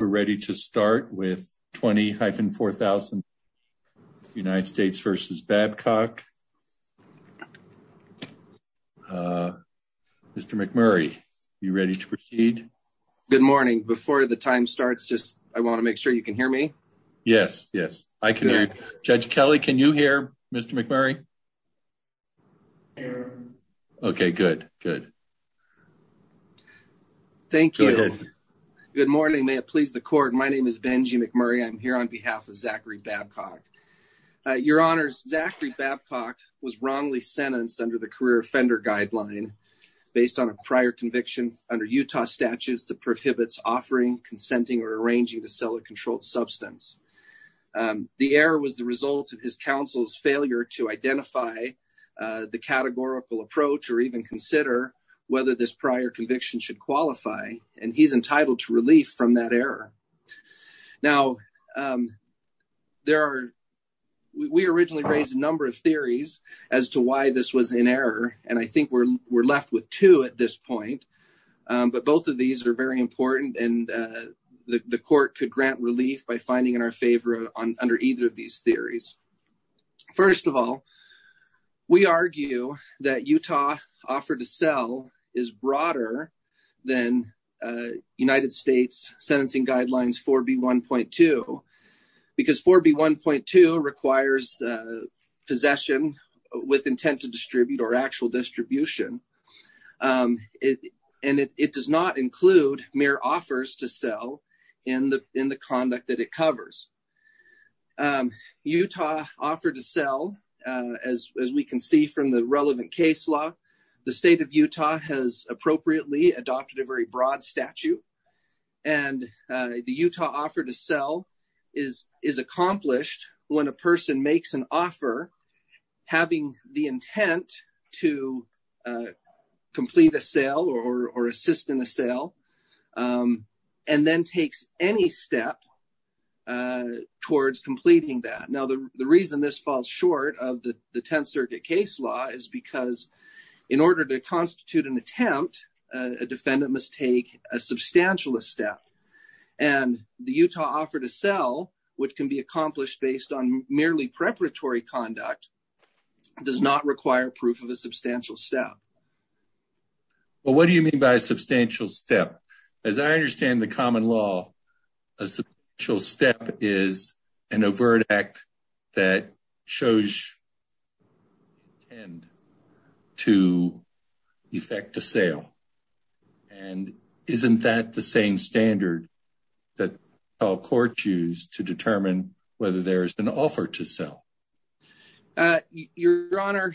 We're ready to start with 20-4000 United States v. Babcock. Mr. McMurray, are you ready to proceed? Good morning. Before the time starts, I want to make sure you can hear me. Yes. Yes. I can hear you. Judge Kelly, can you hear Mr. McMurray? I hear him. Okay, good. Good. Thank you. Go ahead. Good morning. Good morning. May it please the court. My name is Benji McMurray. I'm here on behalf of Zachary Babcock. Your honors, Zachary Babcock was wrongly sentenced under the career offender guideline based on a prior conviction under Utah statutes that prohibits offering, consenting, or arranging to sell a controlled substance. The error was the result of his counsel's failure to identify the categorical approach or even consider whether this prior conviction should qualify, and he's entitled to relief from that error. Now, we originally raised a number of theories as to why this was an error, and I think we're left with two at this point, but both of these are very important, and the court could grant relief by finding in our favor under either of these theories. First of all, we argue that Utah offer to sell is broader than United States sentencing guidelines 4B1.2, because 4B1.2 requires possession with intent to distribute or actual distribution, and it does not include mere offers to sell in the conduct that it covers. Utah offer to sell, as we can see from the relevant case law, the state of Utah has appropriately adopted a very broad statute, and the Utah offer to sell is accomplished when a person makes an offer having the intent to complete a sale or assist in a sale, and then takes any step towards completing that. Now, the reason this falls short of the Tenth Circuit case law is because in order to constitute an attempt, a defendant must take a substantial step, and the Utah offer to sell, which can be accomplished based on merely preparatory conduct, does not require proof of a substantial step. Well, what do you mean by a substantial step? As I understand the common law, a substantial step is an overt act that shows intent to effect a sale, and isn't that the same standard that all courts use to determine whether there Your Honor,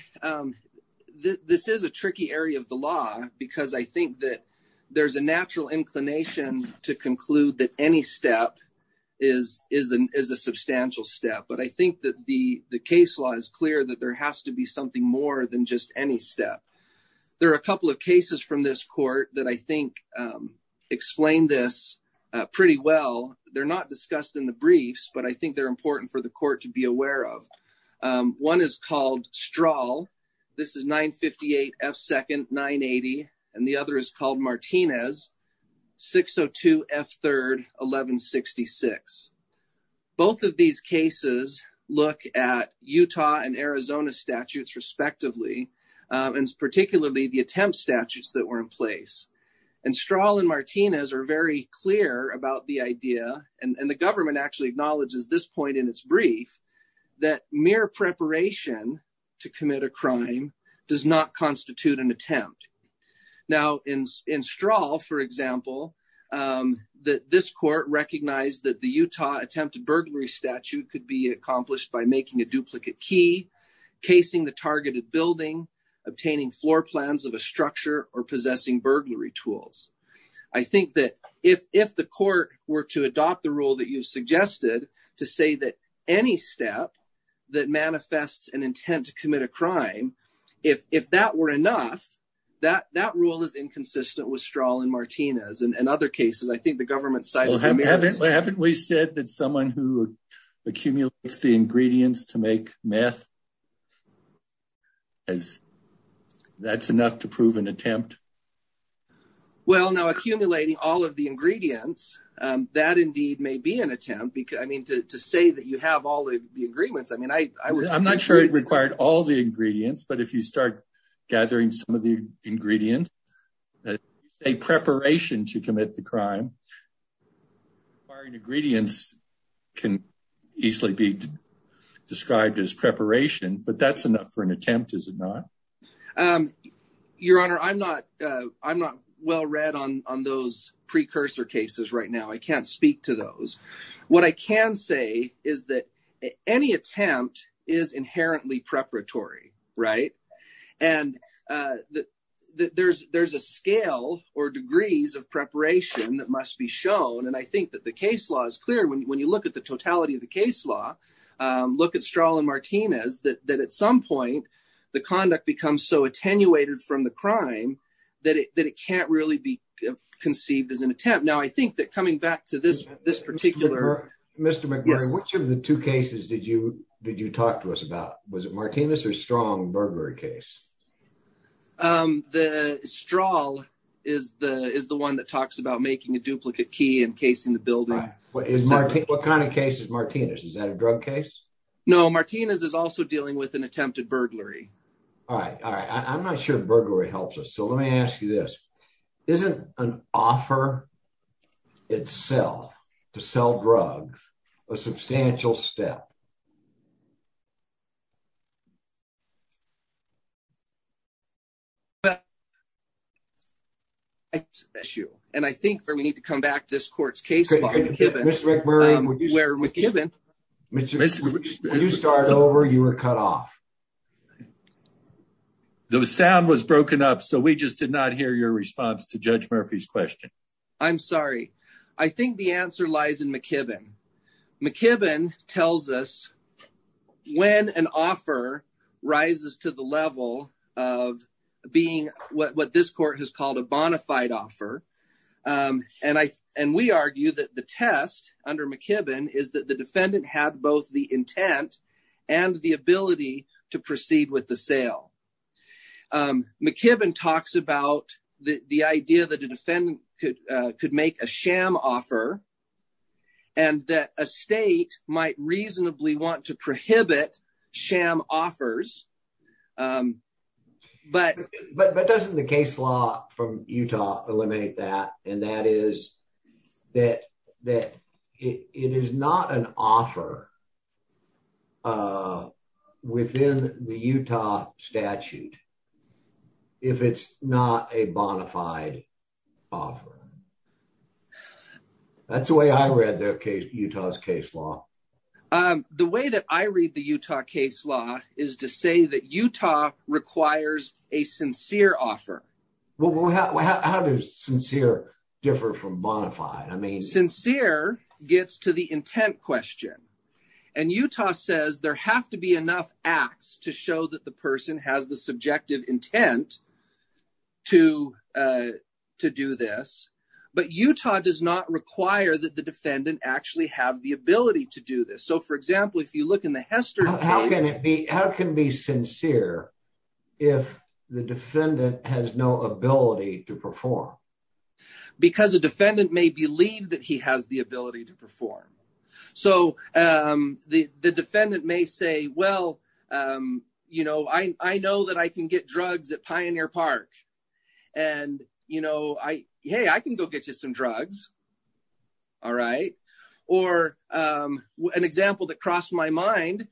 this is a tricky area of the law because I think that there's a natural inclination to conclude that any step is a substantial step, but I think that the case law is clear that there has to be something more than just any step. There are a couple of cases from this court that I think explain this pretty well. They're not discussed in the briefs, but I think they're important for the court to be aware of. One is called Strahl. This is 958 F. 2nd, 980, and the other is called Martinez, 602 F. 3rd, 1166. Both of these cases look at Utah and Arizona statutes, respectively, and particularly the attempt statutes that were in place. And Strahl and Martinez are very clear about the idea, and the government actually acknowledges this point in its brief, that mere preparation to commit a crime does not constitute an attempt. Now in Strahl, for example, this court recognized that the Utah attempted burglary statute could be accomplished by making a duplicate key, casing the targeted building, obtaining floor plans of a structure, or possessing burglary tools. I think that if the court were to adopt the rule that you suggested, to say that any step that manifests an intent to commit a crime, if that were enough, that rule is inconsistent with Strahl and Martinez and other cases. I think the government's side of the matter is— Well, haven't we said that someone who accumulates the ingredients to make meth, that's enough to prove an attempt? Well, now accumulating all of the ingredients, that indeed may be an attempt. I mean, to say that you have all of the ingredients, I mean, I would— I'm not sure it required all the ingredients, but if you start gathering some of the ingredients that say preparation to commit the crime, requiring ingredients can easily be described as preparation, but that's enough for an attempt, is it not? Your Honor, I'm not well-read on those precursor cases right now. I can't speak to those. What I can say is that any attempt is inherently preparatory, right? And there's a scale or degrees of preparation that must be shown, and I think that the case law is clear. When you look at the totality of the case law, look at Strahl and Martinez, that at some point, the conduct becomes so attenuated from the crime that it can't really be conceived as an attempt. Now, I think that coming back to this particular— Mr. McMurray, which of the two cases did you talk to us about? Was it Martinez or Strahl, the burglary case? The Strahl is the one that talks about making a duplicate key and casing the building. What kind of case is Martinez? Is that a drug case? No, Martinez is also dealing with an attempted burglary. All right, all right. I'm not sure burglary helps us, so let me ask you this. Isn't an offer itself, to sell drugs, a substantial step? I think we need to come back to this court's case law, McKibbin, where McKibbin— When you started over, you were cut off. The sound was broken up, so we just did not hear your response to Judge Murphy's question. I'm sorry. I think the answer lies in McKibbin. McKibbin tells us when an offer rises to the level of being what this court has called a bona fide offer. And we argue that the test under McKibbin is that the defendant had both the intent and the ability to proceed with the sale. McKibbin talks about the idea that a defendant could make a sham offer and that a state might reasonably want to prohibit sham offers. But doesn't the case law from Utah eliminate that? And that is that it is not an offer within the Utah statute if it's not a bona fide offer. That's the way I read Utah's case law. The way that I read the Utah case law is to say that Utah requires a sincere offer. How does sincere differ from bona fide? Sincere gets to the intent question. And Utah says there have to be enough acts to show that the person has the subjective intent to do this. But Utah does not require that the defendant actually have the ability to do this. So for example, if you look in the Hester case... How can it be sincere if the defendant has no ability to perform? Because a defendant may believe that he has the ability to perform. So the defendant may say, well, you know, I know that I can get drugs at Pioneer Park. And, you know, hey, I can go get you some drugs. All right. Or an example that crossed my mind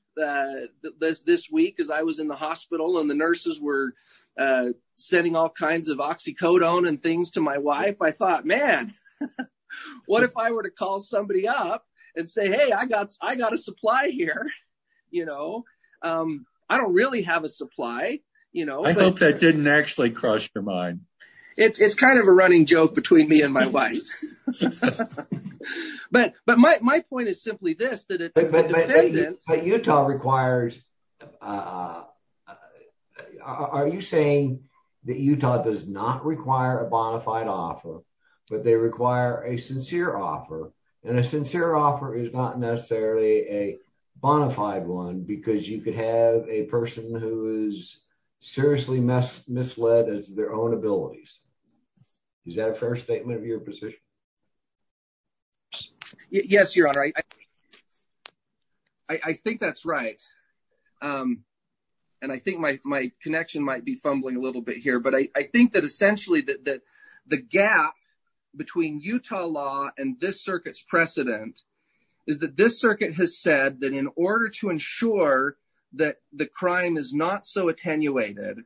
this week is I was in the hospital and the nurses were sending all kinds of oxycodone and things to my wife. I thought, man, what if I were to call somebody up and say, hey, I got I got a supply here. You know, I don't really have a supply. I hope that didn't actually cross your mind. It's kind of a running joke between me and my wife. But my point is simply this. But Utah requires... Are you saying that Utah does not require a bona fide offer, but they require a sincere offer and a sincere offer is not necessarily a bona fide one because you could have a person who is seriously misled as their own abilities. Is that a fair statement of your position? Yes, your honor. I think that's right. And I think my connection might be fumbling a little bit here. But I think that essentially that the gap between Utah law and this circuit's precedent is that this circuit has said that in order to ensure that the crime is not so attenuated,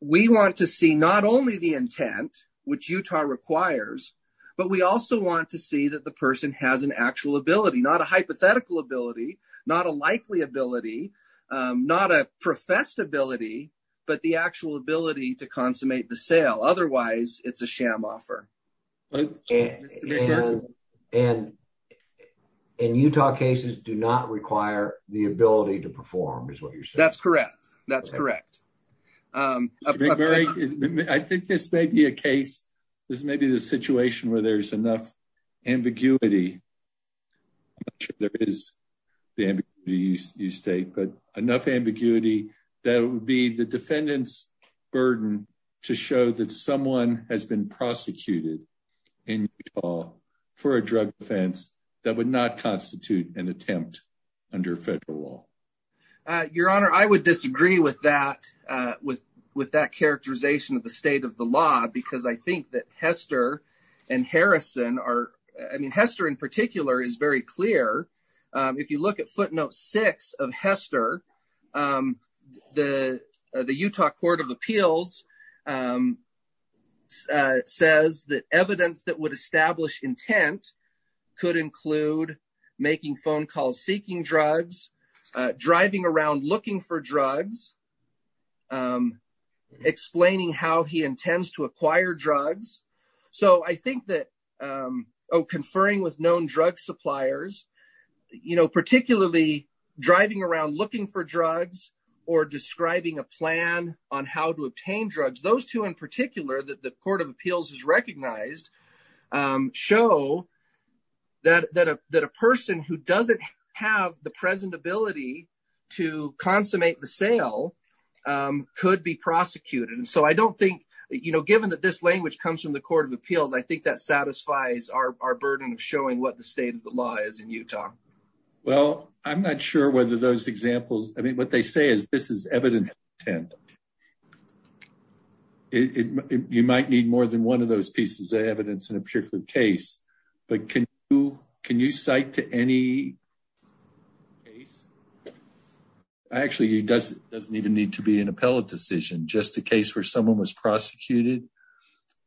we want to see not only the intent, which Utah requires, but we also want to see that the person has an actual ability, not a hypothetical ability, not a likely ability, not a professed ability, but the actual ability to consummate the sale. Otherwise, it's a sham offer. And Utah cases do not require the ability to perform, is what you're saying. That's correct. That's correct. Mr. Bigberry, I think this may be a case, this may be the situation where there's enough ambiguity. I'm not sure if there is the ambiguity you state, but enough ambiguity that it would burden to show that someone has been prosecuted in Utah for a drug offense that would not constitute an attempt under federal law. Your honor, I would disagree with that, with that characterization of the state of the law, because I think that Hester and Harrison are, I mean, Hester in particular is very clear. If you look at footnote six of Hester, the Utah Court of Appeals says that evidence that would establish intent could include making phone calls, seeking drugs, driving around, looking for drugs, explaining how he intends to acquire drugs. I think that conferring with known drug suppliers, particularly driving around looking for drugs or describing a plan on how to obtain drugs, those two in particular that the Court of Appeals has recognized show that a person who doesn't have the present ability to consummate the sale could be prosecuted. And so I don't think, you know, given that this language comes from the Court of Appeals, I think that satisfies our burden of showing what the state of the law is in Utah. Well, I'm not sure whether those examples, I mean, what they say is this is evidence of intent. You might need more than one of those pieces of evidence in a particular case, but can you cite to any case? Actually, it doesn't even need to be an appellate decision. Just a case where someone was prosecuted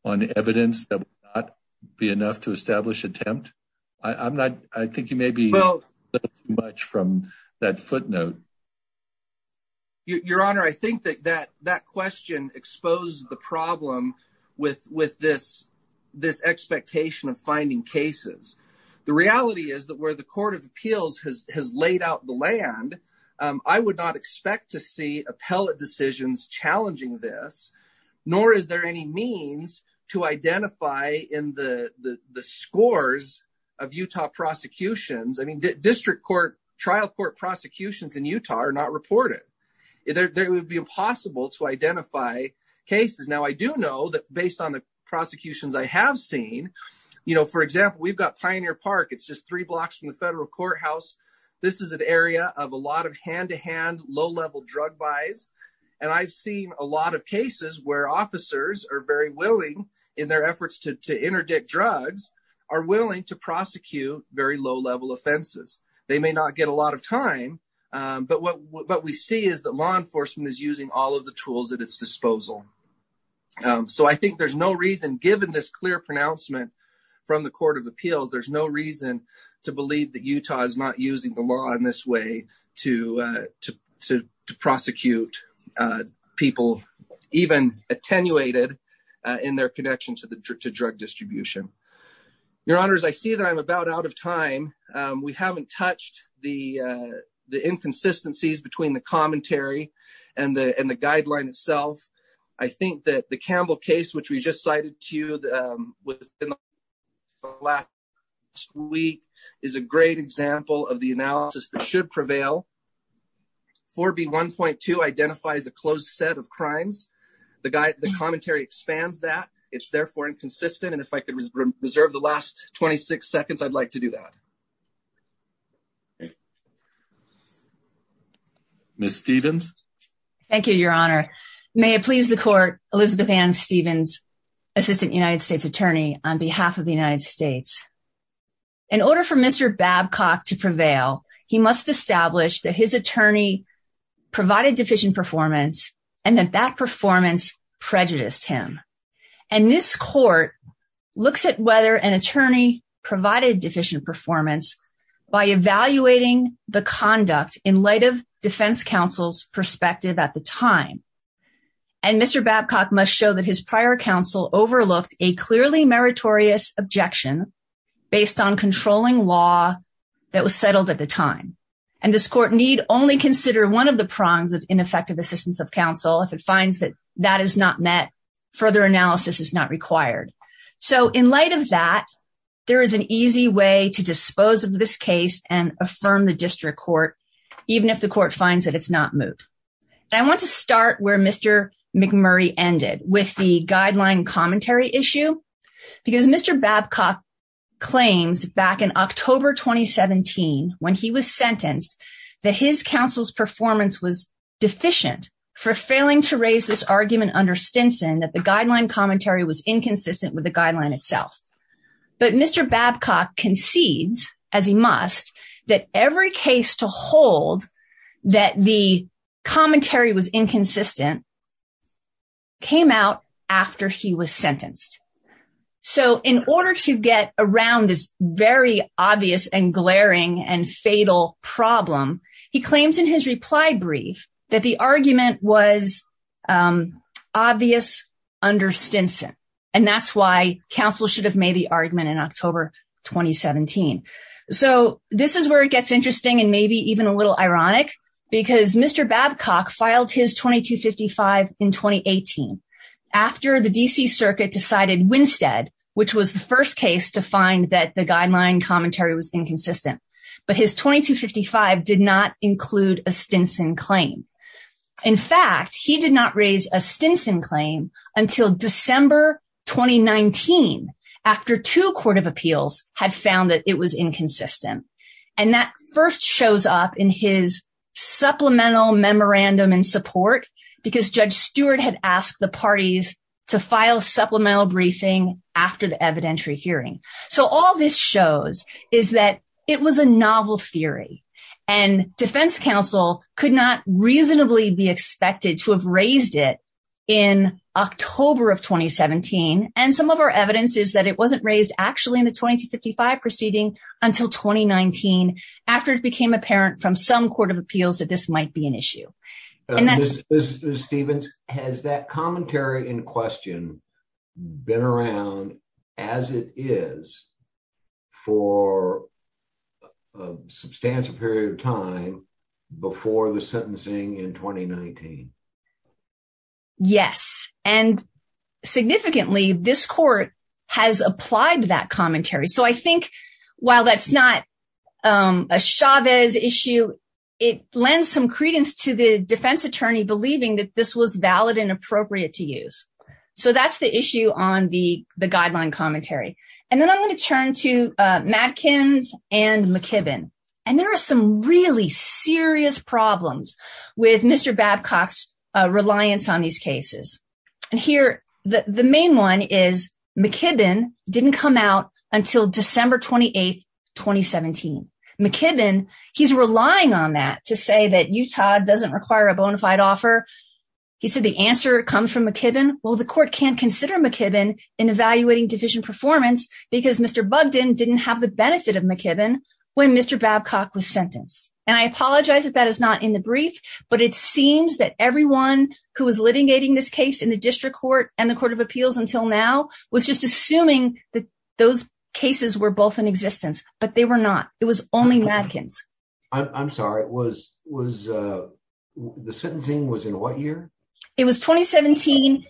on evidence that would not be enough to establish attempt. I'm not. I think you may be much from that footnote. Your Honor, I think that that that question exposed the problem with with this this expectation of finding cases. The reality is that where the Court of Appeals has laid out the land, I would not expect to see appellate decisions challenging this, nor is there any means to identify in the scores of Utah prosecutions. I mean, district court trial court prosecutions in Utah are not reported. It would be impossible to identify cases. Now, I do know that based on the prosecutions I have seen, you know, for example, we've got Pioneer Park. It's just three blocks from the federal courthouse. This is an area of a lot of hand-to-hand, low-level drug buys, and I've seen a lot of cases where officers are very willing in their efforts to interdict drugs are willing to prosecute very low-level offenses. They may not get a lot of time, but what we see is that law enforcement is using all of the tools at its disposal. So I think there's no reason, given this clear pronouncement from the Court of Appeals, there's no reason to believe that Utah is not using the law in this way to prosecute people even attenuated in their connection to drug distribution. Your Honors, I see that I'm about out of time. We haven't touched the inconsistencies between the commentary and the guideline itself. I think that the Campbell case, which we just cited to you within the last week, is a great example of the analysis that should prevail. 4B1.2 identifies a closed set of crimes. The commentary expands that. It's therefore inconsistent, and if I could reserve the last 26 seconds, I'd like to do that. Ms. Stevens? Thank you, Your Honor. May it please the Court, Elizabeth Ann Stevens, Assistant United States Attorney, on behalf of the United States. In order for Mr. Babcock to prevail, he must establish that his attorney provided deficient performance and that that performance prejudiced him. And this court looks at whether an attorney provided deficient performance by evaluating the conduct in light of defense counsel's perspective at the time. And Mr. Babcock must show that his prior counsel overlooked a clearly meritorious objection based on controlling law that was settled at the time. And this court need only consider one of the prongs of ineffective assistance of counsel. If it finds that that is not met, further analysis is not required. So in light of that, there is an easy way to dispose of this case and affirm the district court, even if the court finds that it's not moot. I want to start where Mr. McMurray ended, with the guideline commentary issue. Because Mr. Babcock claims back in October 2017, when he was sentenced, that his counsel's performance was deficient for failing to raise this argument under Stinson that the guideline commentary was inconsistent with the guideline itself. But Mr. Babcock concedes, as he must, that every case to hold that the commentary was inconsistent came out after he was sentenced. So in order to get around this very obvious and glaring and fatal problem, he claims in his reply brief that the argument was obvious under Stinson. And that's why counsel should have made the argument in October 2017. So this is where it gets interesting and maybe even a little ironic, because Mr. Babcock filed his 2255 in 2018, after the DC Circuit decided Winstead, which was the first case to find that the guideline commentary was inconsistent. But his 2255 did not include a Stinson claim. In fact, he did not raise a Stinson claim until December 2019, after two court of appeals had found that it was inconsistent. And that first shows up in his supplemental memorandum and support, because Judge Stewart had asked the parties to file supplemental briefing after the evidentiary hearing. So all this shows is that it was a novel theory. And defense counsel could not reasonably be expected to have raised it in October of 2017. And some of our evidence is that it wasn't raised actually in the 2255 proceeding until 2019, after it became apparent from some court of appeals that this might be an issue. Mr. Stevens, has that commentary in question been around as it is for a substantial period of time before the sentencing in 2019? Yes. And significantly, this court has applied that commentary. So I think while that's not a Chavez issue, it lends some credence to the defense attorney believing that this was valid and appropriate to use. So that's the issue on the guideline commentary. And then I'm going to turn to Matkins and McKibbin. And there are some really serious problems with Mr. Babcock's reliance on these cases. And here, the main one is McKibbin didn't come out until December 28, 2017. McKibbin, he's relying on that to say that Utah doesn't require a bona fide offer. He said the answer comes from McKibbin. Well, the court can't consider McKibbin in evaluating division performance because Mr. Bugden didn't have the benefit of McKibbin when Mr. Babcock was sentenced. And I apologize if that is not in the brief. But it seems that everyone who was litigating this case in the district court and the court of appeals until now was just assuming that those cases were both in existence, but they were not. It was only Matkins. I'm sorry. It was the sentencing was in what year? It was 2017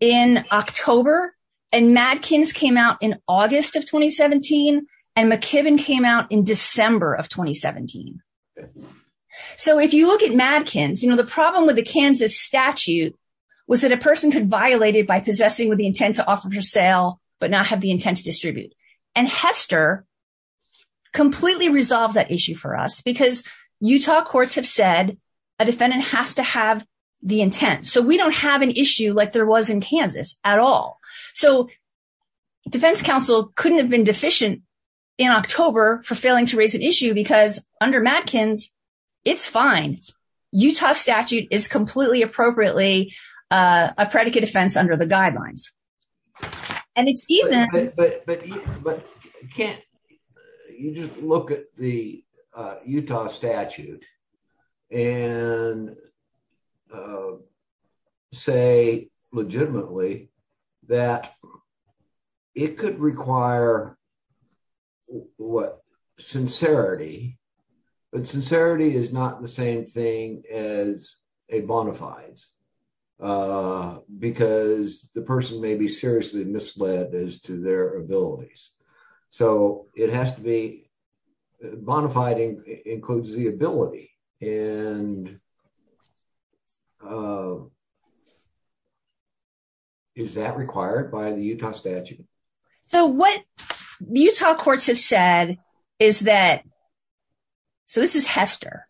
in October. And Matkins came out in August of 2017. And McKibbin came out in December of 2017. So if you look at Matkins, you know, the problem with the Kansas statute was that a person could violate it by possessing with the intent to offer for sale but not have the intent to distribute. And Hester completely resolves that issue for us because Utah courts have said a defendant has to have the intent. So we don't have an issue like there was in Kansas at all. So defense counsel couldn't have been deficient in October for failing to raise an issue because under Matkins, it's fine. Utah statute is completely appropriately a predicate offense under the guidelines. And it's even. But can't you just look at the Utah statute and say legitimately that it could require what sincerity. But sincerity is not the same thing as a bona fides because the person may be seriously misled as to their abilities. So it has to be bona fide includes the ability. And is that required by the Utah statute? So what Utah courts have said is that. So this is Hester.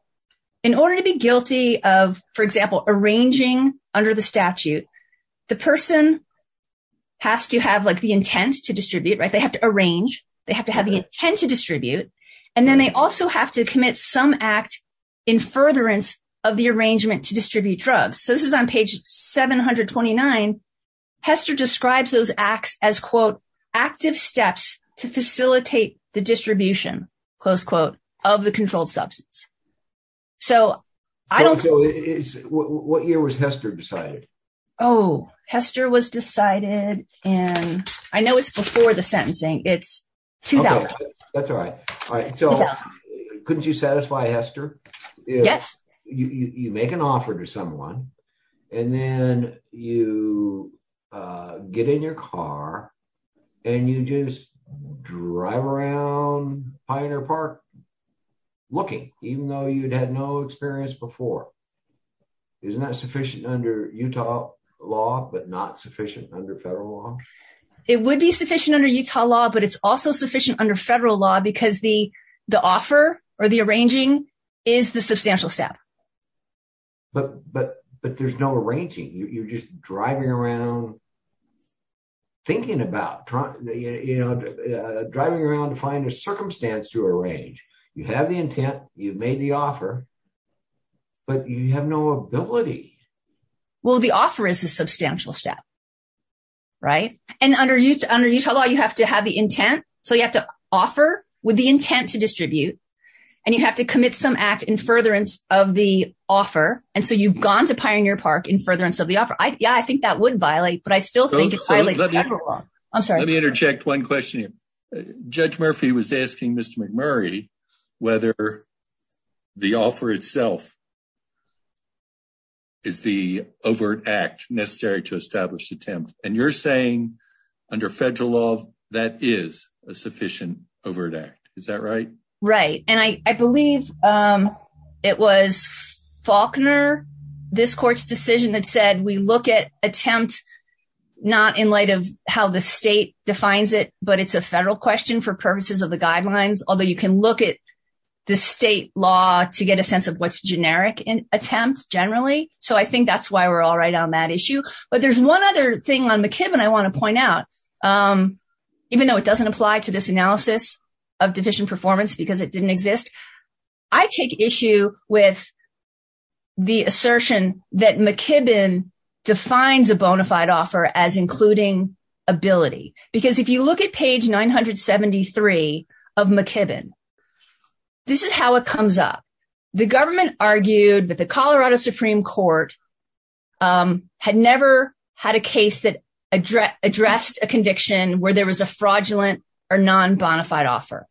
In order to be guilty of, for example, arranging under the statute, the person has to have like the intent to distribute. They have to arrange. They have to have the intent to distribute. And then they also have to commit some act in furtherance of the arrangement to distribute drugs. So this is on page seven hundred twenty nine. Hester describes those acts as, quote, active steps to facilitate the distribution, close quote of the controlled substance. So I don't know what year was Hester decided. Oh, Hester was decided. And I know it's before the sentencing. That's right. Couldn't you satisfy Hester? Yes. You make an offer to someone and then you get in your car and you just drive around Pioneer Park looking, even though you'd had no experience before. Isn't that sufficient under Utah law, but not sufficient under federal law? It would be sufficient under Utah law, but it's also sufficient under federal law because the the offer or the arranging is the substantial step. But but but there's no arranging. You're just driving around. Thinking about, you know, driving around to find a circumstance to arrange. You have the intent. You've made the offer. But you have no ability. Well, the offer is a substantial step. Right. And under Utah law, you have to have the intent. So you have to offer with the intent to distribute and you have to commit some act in furtherance of the offer. And so you've gone to Pioneer Park in furtherance of the offer. Yeah, I think that would violate. But I still think it's ever wrong. I'm sorry. Let me interject one question. Judge Murphy was asking Mr. McMurray whether the offer itself. Is the overt act necessary to establish attempt and you're saying under federal law that is a sufficient overt act, is that right? Right. And I believe it was Faulkner. This court's decision that said we look at attempt, not in light of how the state defines it, but it's a federal question for purposes of the guidelines. Although you can look at the state law to get a sense of what's generic and attempt generally. So I think that's why we're all right on that issue. But there's one other thing on McKibbin I want to point out, even though it doesn't apply to this analysis of deficient performance because it didn't exist. I take issue with. The assertion that McKibbin defines a bona fide offer as including ability, because if you look at page 973 of McKibbin, this is how it comes up. The government argued that the Colorado Supreme Court had never had a case that addressed addressed a conviction where there was a fraudulent or non bona fide offer.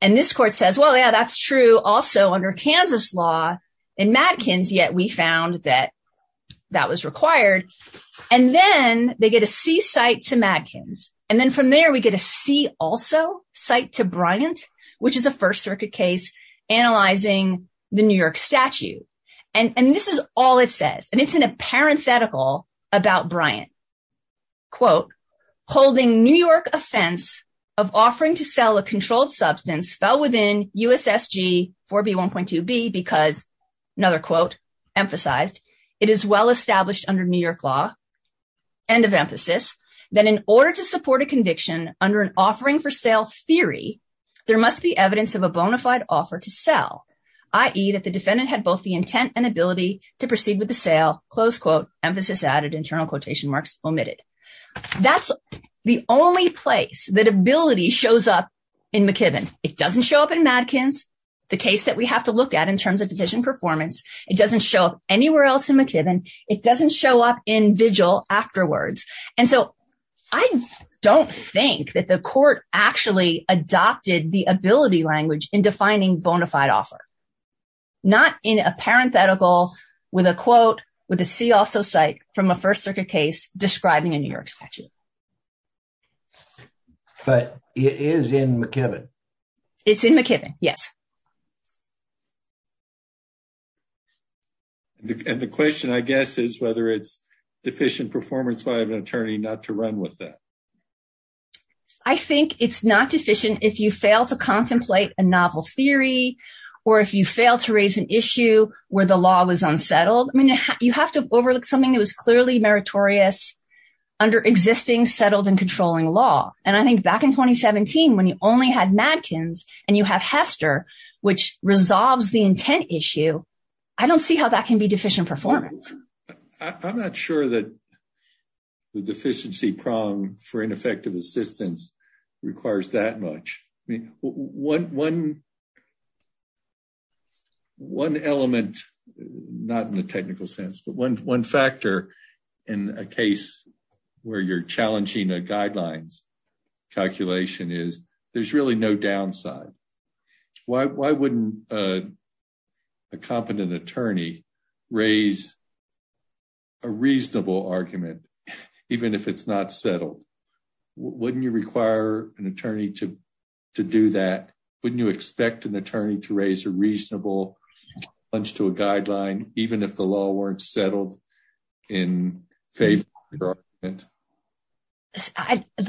And this court says, well, yeah, that's true. Also, under Kansas law and Matkins, yet we found that that was required. And then they get a C site to Matkins. And then from there we get a C also site to Bryant, which is a First Circuit case analyzing the New York statute. And this is all it says. And it's in a parenthetical about Bryant. Quote, holding New York offense of offering to sell a controlled substance fell within USSG 4B 1.2B because another quote emphasized it is well established under New York law. End of emphasis that in order to support a conviction under an offering for sale theory, there must be evidence of a bona fide offer to sell, i.e. that the defendant had both the intent and ability to proceed with the sale. Close quote, emphasis added internal quotation marks omitted. That's the only place that ability shows up in McKibbin. It doesn't show up in Matkins, the case that we have to look at in terms of division performance. It doesn't show up anywhere else in McKibbin. It doesn't show up in vigil afterwards. And so I don't think that the court actually adopted the ability language in defining bona fide offer. Not in a parenthetical with a quote with a see also site from a First Circuit case describing a New York statute. But it is in McKibbin. It's in McKibbin. Yes. And the question I guess is whether it's deficient performance by an attorney not to run with that. I think it's not deficient if you fail to contemplate a novel theory or if you fail to raise an issue where the law was unsettled. I mean, you have to overlook something that was clearly meritorious under existing, settled and controlling law. And I think back in 2017, when you only had Matkins and you have Hester, which resolves the intent issue, I don't see how that can be deficient performance. I'm not sure that the deficiency prong for ineffective assistance requires that much. I mean, one one one element, not in the technical sense, but one one factor in a case where you're challenging a guidelines calculation is there's really no downside. Why wouldn't a competent attorney raise a reasonable argument, even if it's not settled? Wouldn't you require an attorney to to do that? Wouldn't you expect an attorney to raise a reasonable bunch to a guideline, even if the law weren't settled in faith? The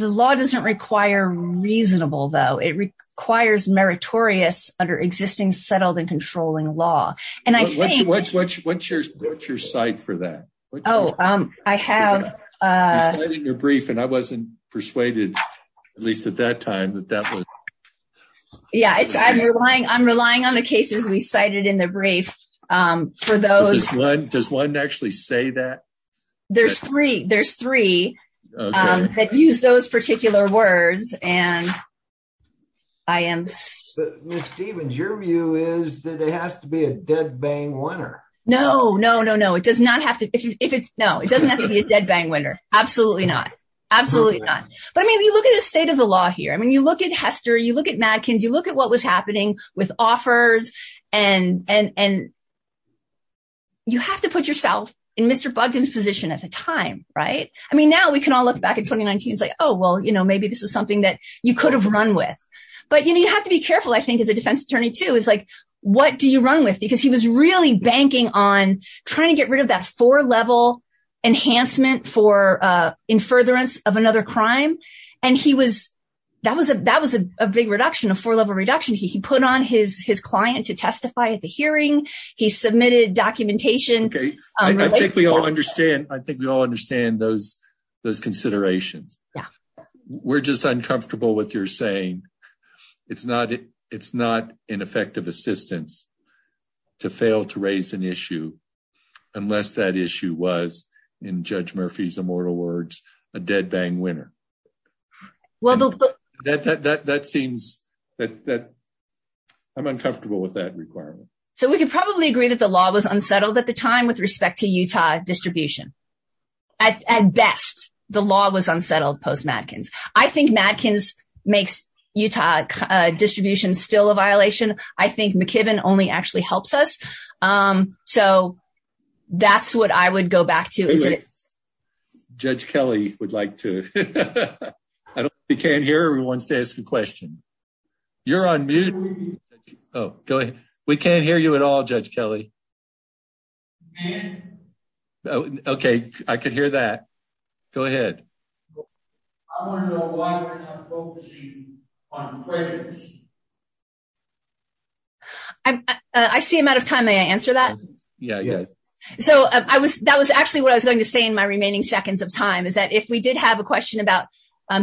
law doesn't require reasonable, though it requires meritorious under existing, settled and controlling law. And I think what's what's what's what's your what's your site for that? Oh, I have your brief and I wasn't persuaded, at least at that time that that was. Yeah, it's I'm relying I'm relying on the cases we cited in the brief for those. Does one actually say that there's three? There's three that use those particular words. And I am Stephen, your view is that it has to be a dead bang winner. No, no, no, no. It does not have to if it's no, it doesn't have to be a dead bang winner. Absolutely not. Absolutely not. But I mean, you look at the state of the law here. I mean, you look at Hester, you look at Madkins, you look at what was happening with offers and. And you have to put yourself in Mr. Buggins position at the time. Right. I mean, now we can all look back at 2019. Oh, well, you know, maybe this is something that you could have run with. But, you know, you have to be careful, I think, as a defense attorney, too, is like, what do you run with? Because he was really banking on trying to get rid of that four level enhancement for in furtherance of another crime. And he was that was a that was a big reduction, a four level reduction. He put on his his client to testify at the hearing. He submitted documentation. I think we all understand. I think we all understand those those considerations. We're just uncomfortable with your saying it's not it's not an effective assistance to fail to raise an issue. Unless that issue was, in Judge Murphy's immortal words, a dead bang winner. Well, that seems that I'm uncomfortable with that requirement. So we could probably agree that the law was unsettled at the time with respect to Utah distribution. At best, the law was unsettled post-Madkins. I think Madkins makes Utah distribution still a violation. I think McKibben only actually helps us. So that's what I would go back to. Judge Kelly would like to I can't hear everyone's question. You're on mute. Oh, go ahead. We can't hear you at all. Judge Kelly. OK, I could hear that. Go ahead. I want to know why we're not focusing on prejudice. I see him out of time. May I answer that? Yeah, yeah. So I was that was actually what I was going to say in my remaining seconds of time is that if we did have a question about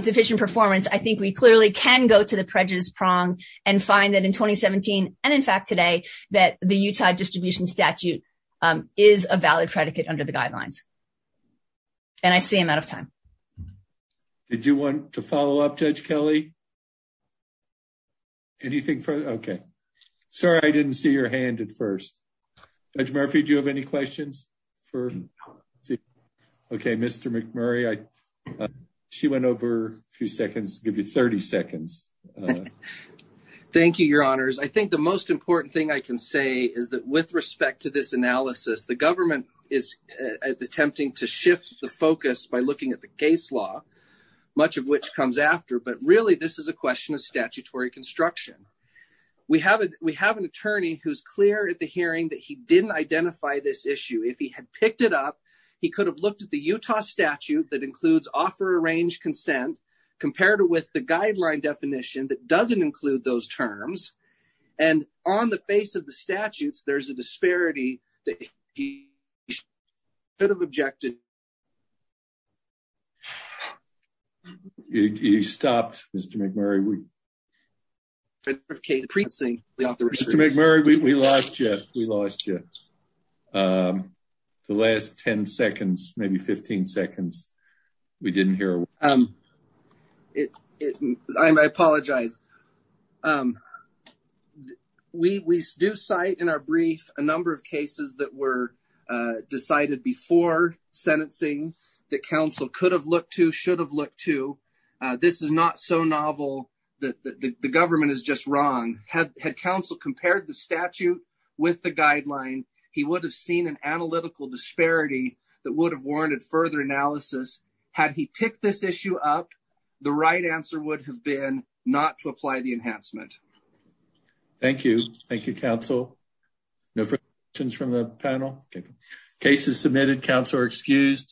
deficient performance, I think we clearly can go to the prejudice prong and find that in 2017 and in fact today that the Utah distribution statute is a valid predicate under the guidelines. And I see him out of time. Did you want to follow up, Judge Kelly? Anything further? OK, sorry, I didn't see your hand at first. Judge Murphy, do you have any questions for? OK, Mr. McMurray, she went over a few seconds, give you 30 seconds. Thank you, your honors. I think the most important thing I can say is that with respect to this analysis, the government is attempting to shift the focus by looking at the case law, much of which comes after. But really, this is a question of statutory construction. We have we have an attorney who's clear at the hearing that he didn't identify this issue. If he had picked it up, he could have looked at the Utah statute that includes offer arranged consent compared to with the guideline definition that doesn't include those terms. And on the face of the statutes, there's a disparity that he could have objected. You stopped, Mr. McMurray, we. Okay, the precinct, Mr. McMurray, we lost you, we lost you the last 10 seconds, maybe 15 seconds. We didn't hear it. I apologize. We do cite in our brief a number of cases that were decided before sentencing that counsel could have looked to should have looked to. This is not so novel that the government is just wrong. Had counsel compared the statute with the guideline, he would have seen an analytical disparity that would have warranted further analysis. Had he picked this issue up, the right answer would have been not to apply the enhancement. Thank you. Thank you, counsel. No questions from the panel cases submitted counselor excused.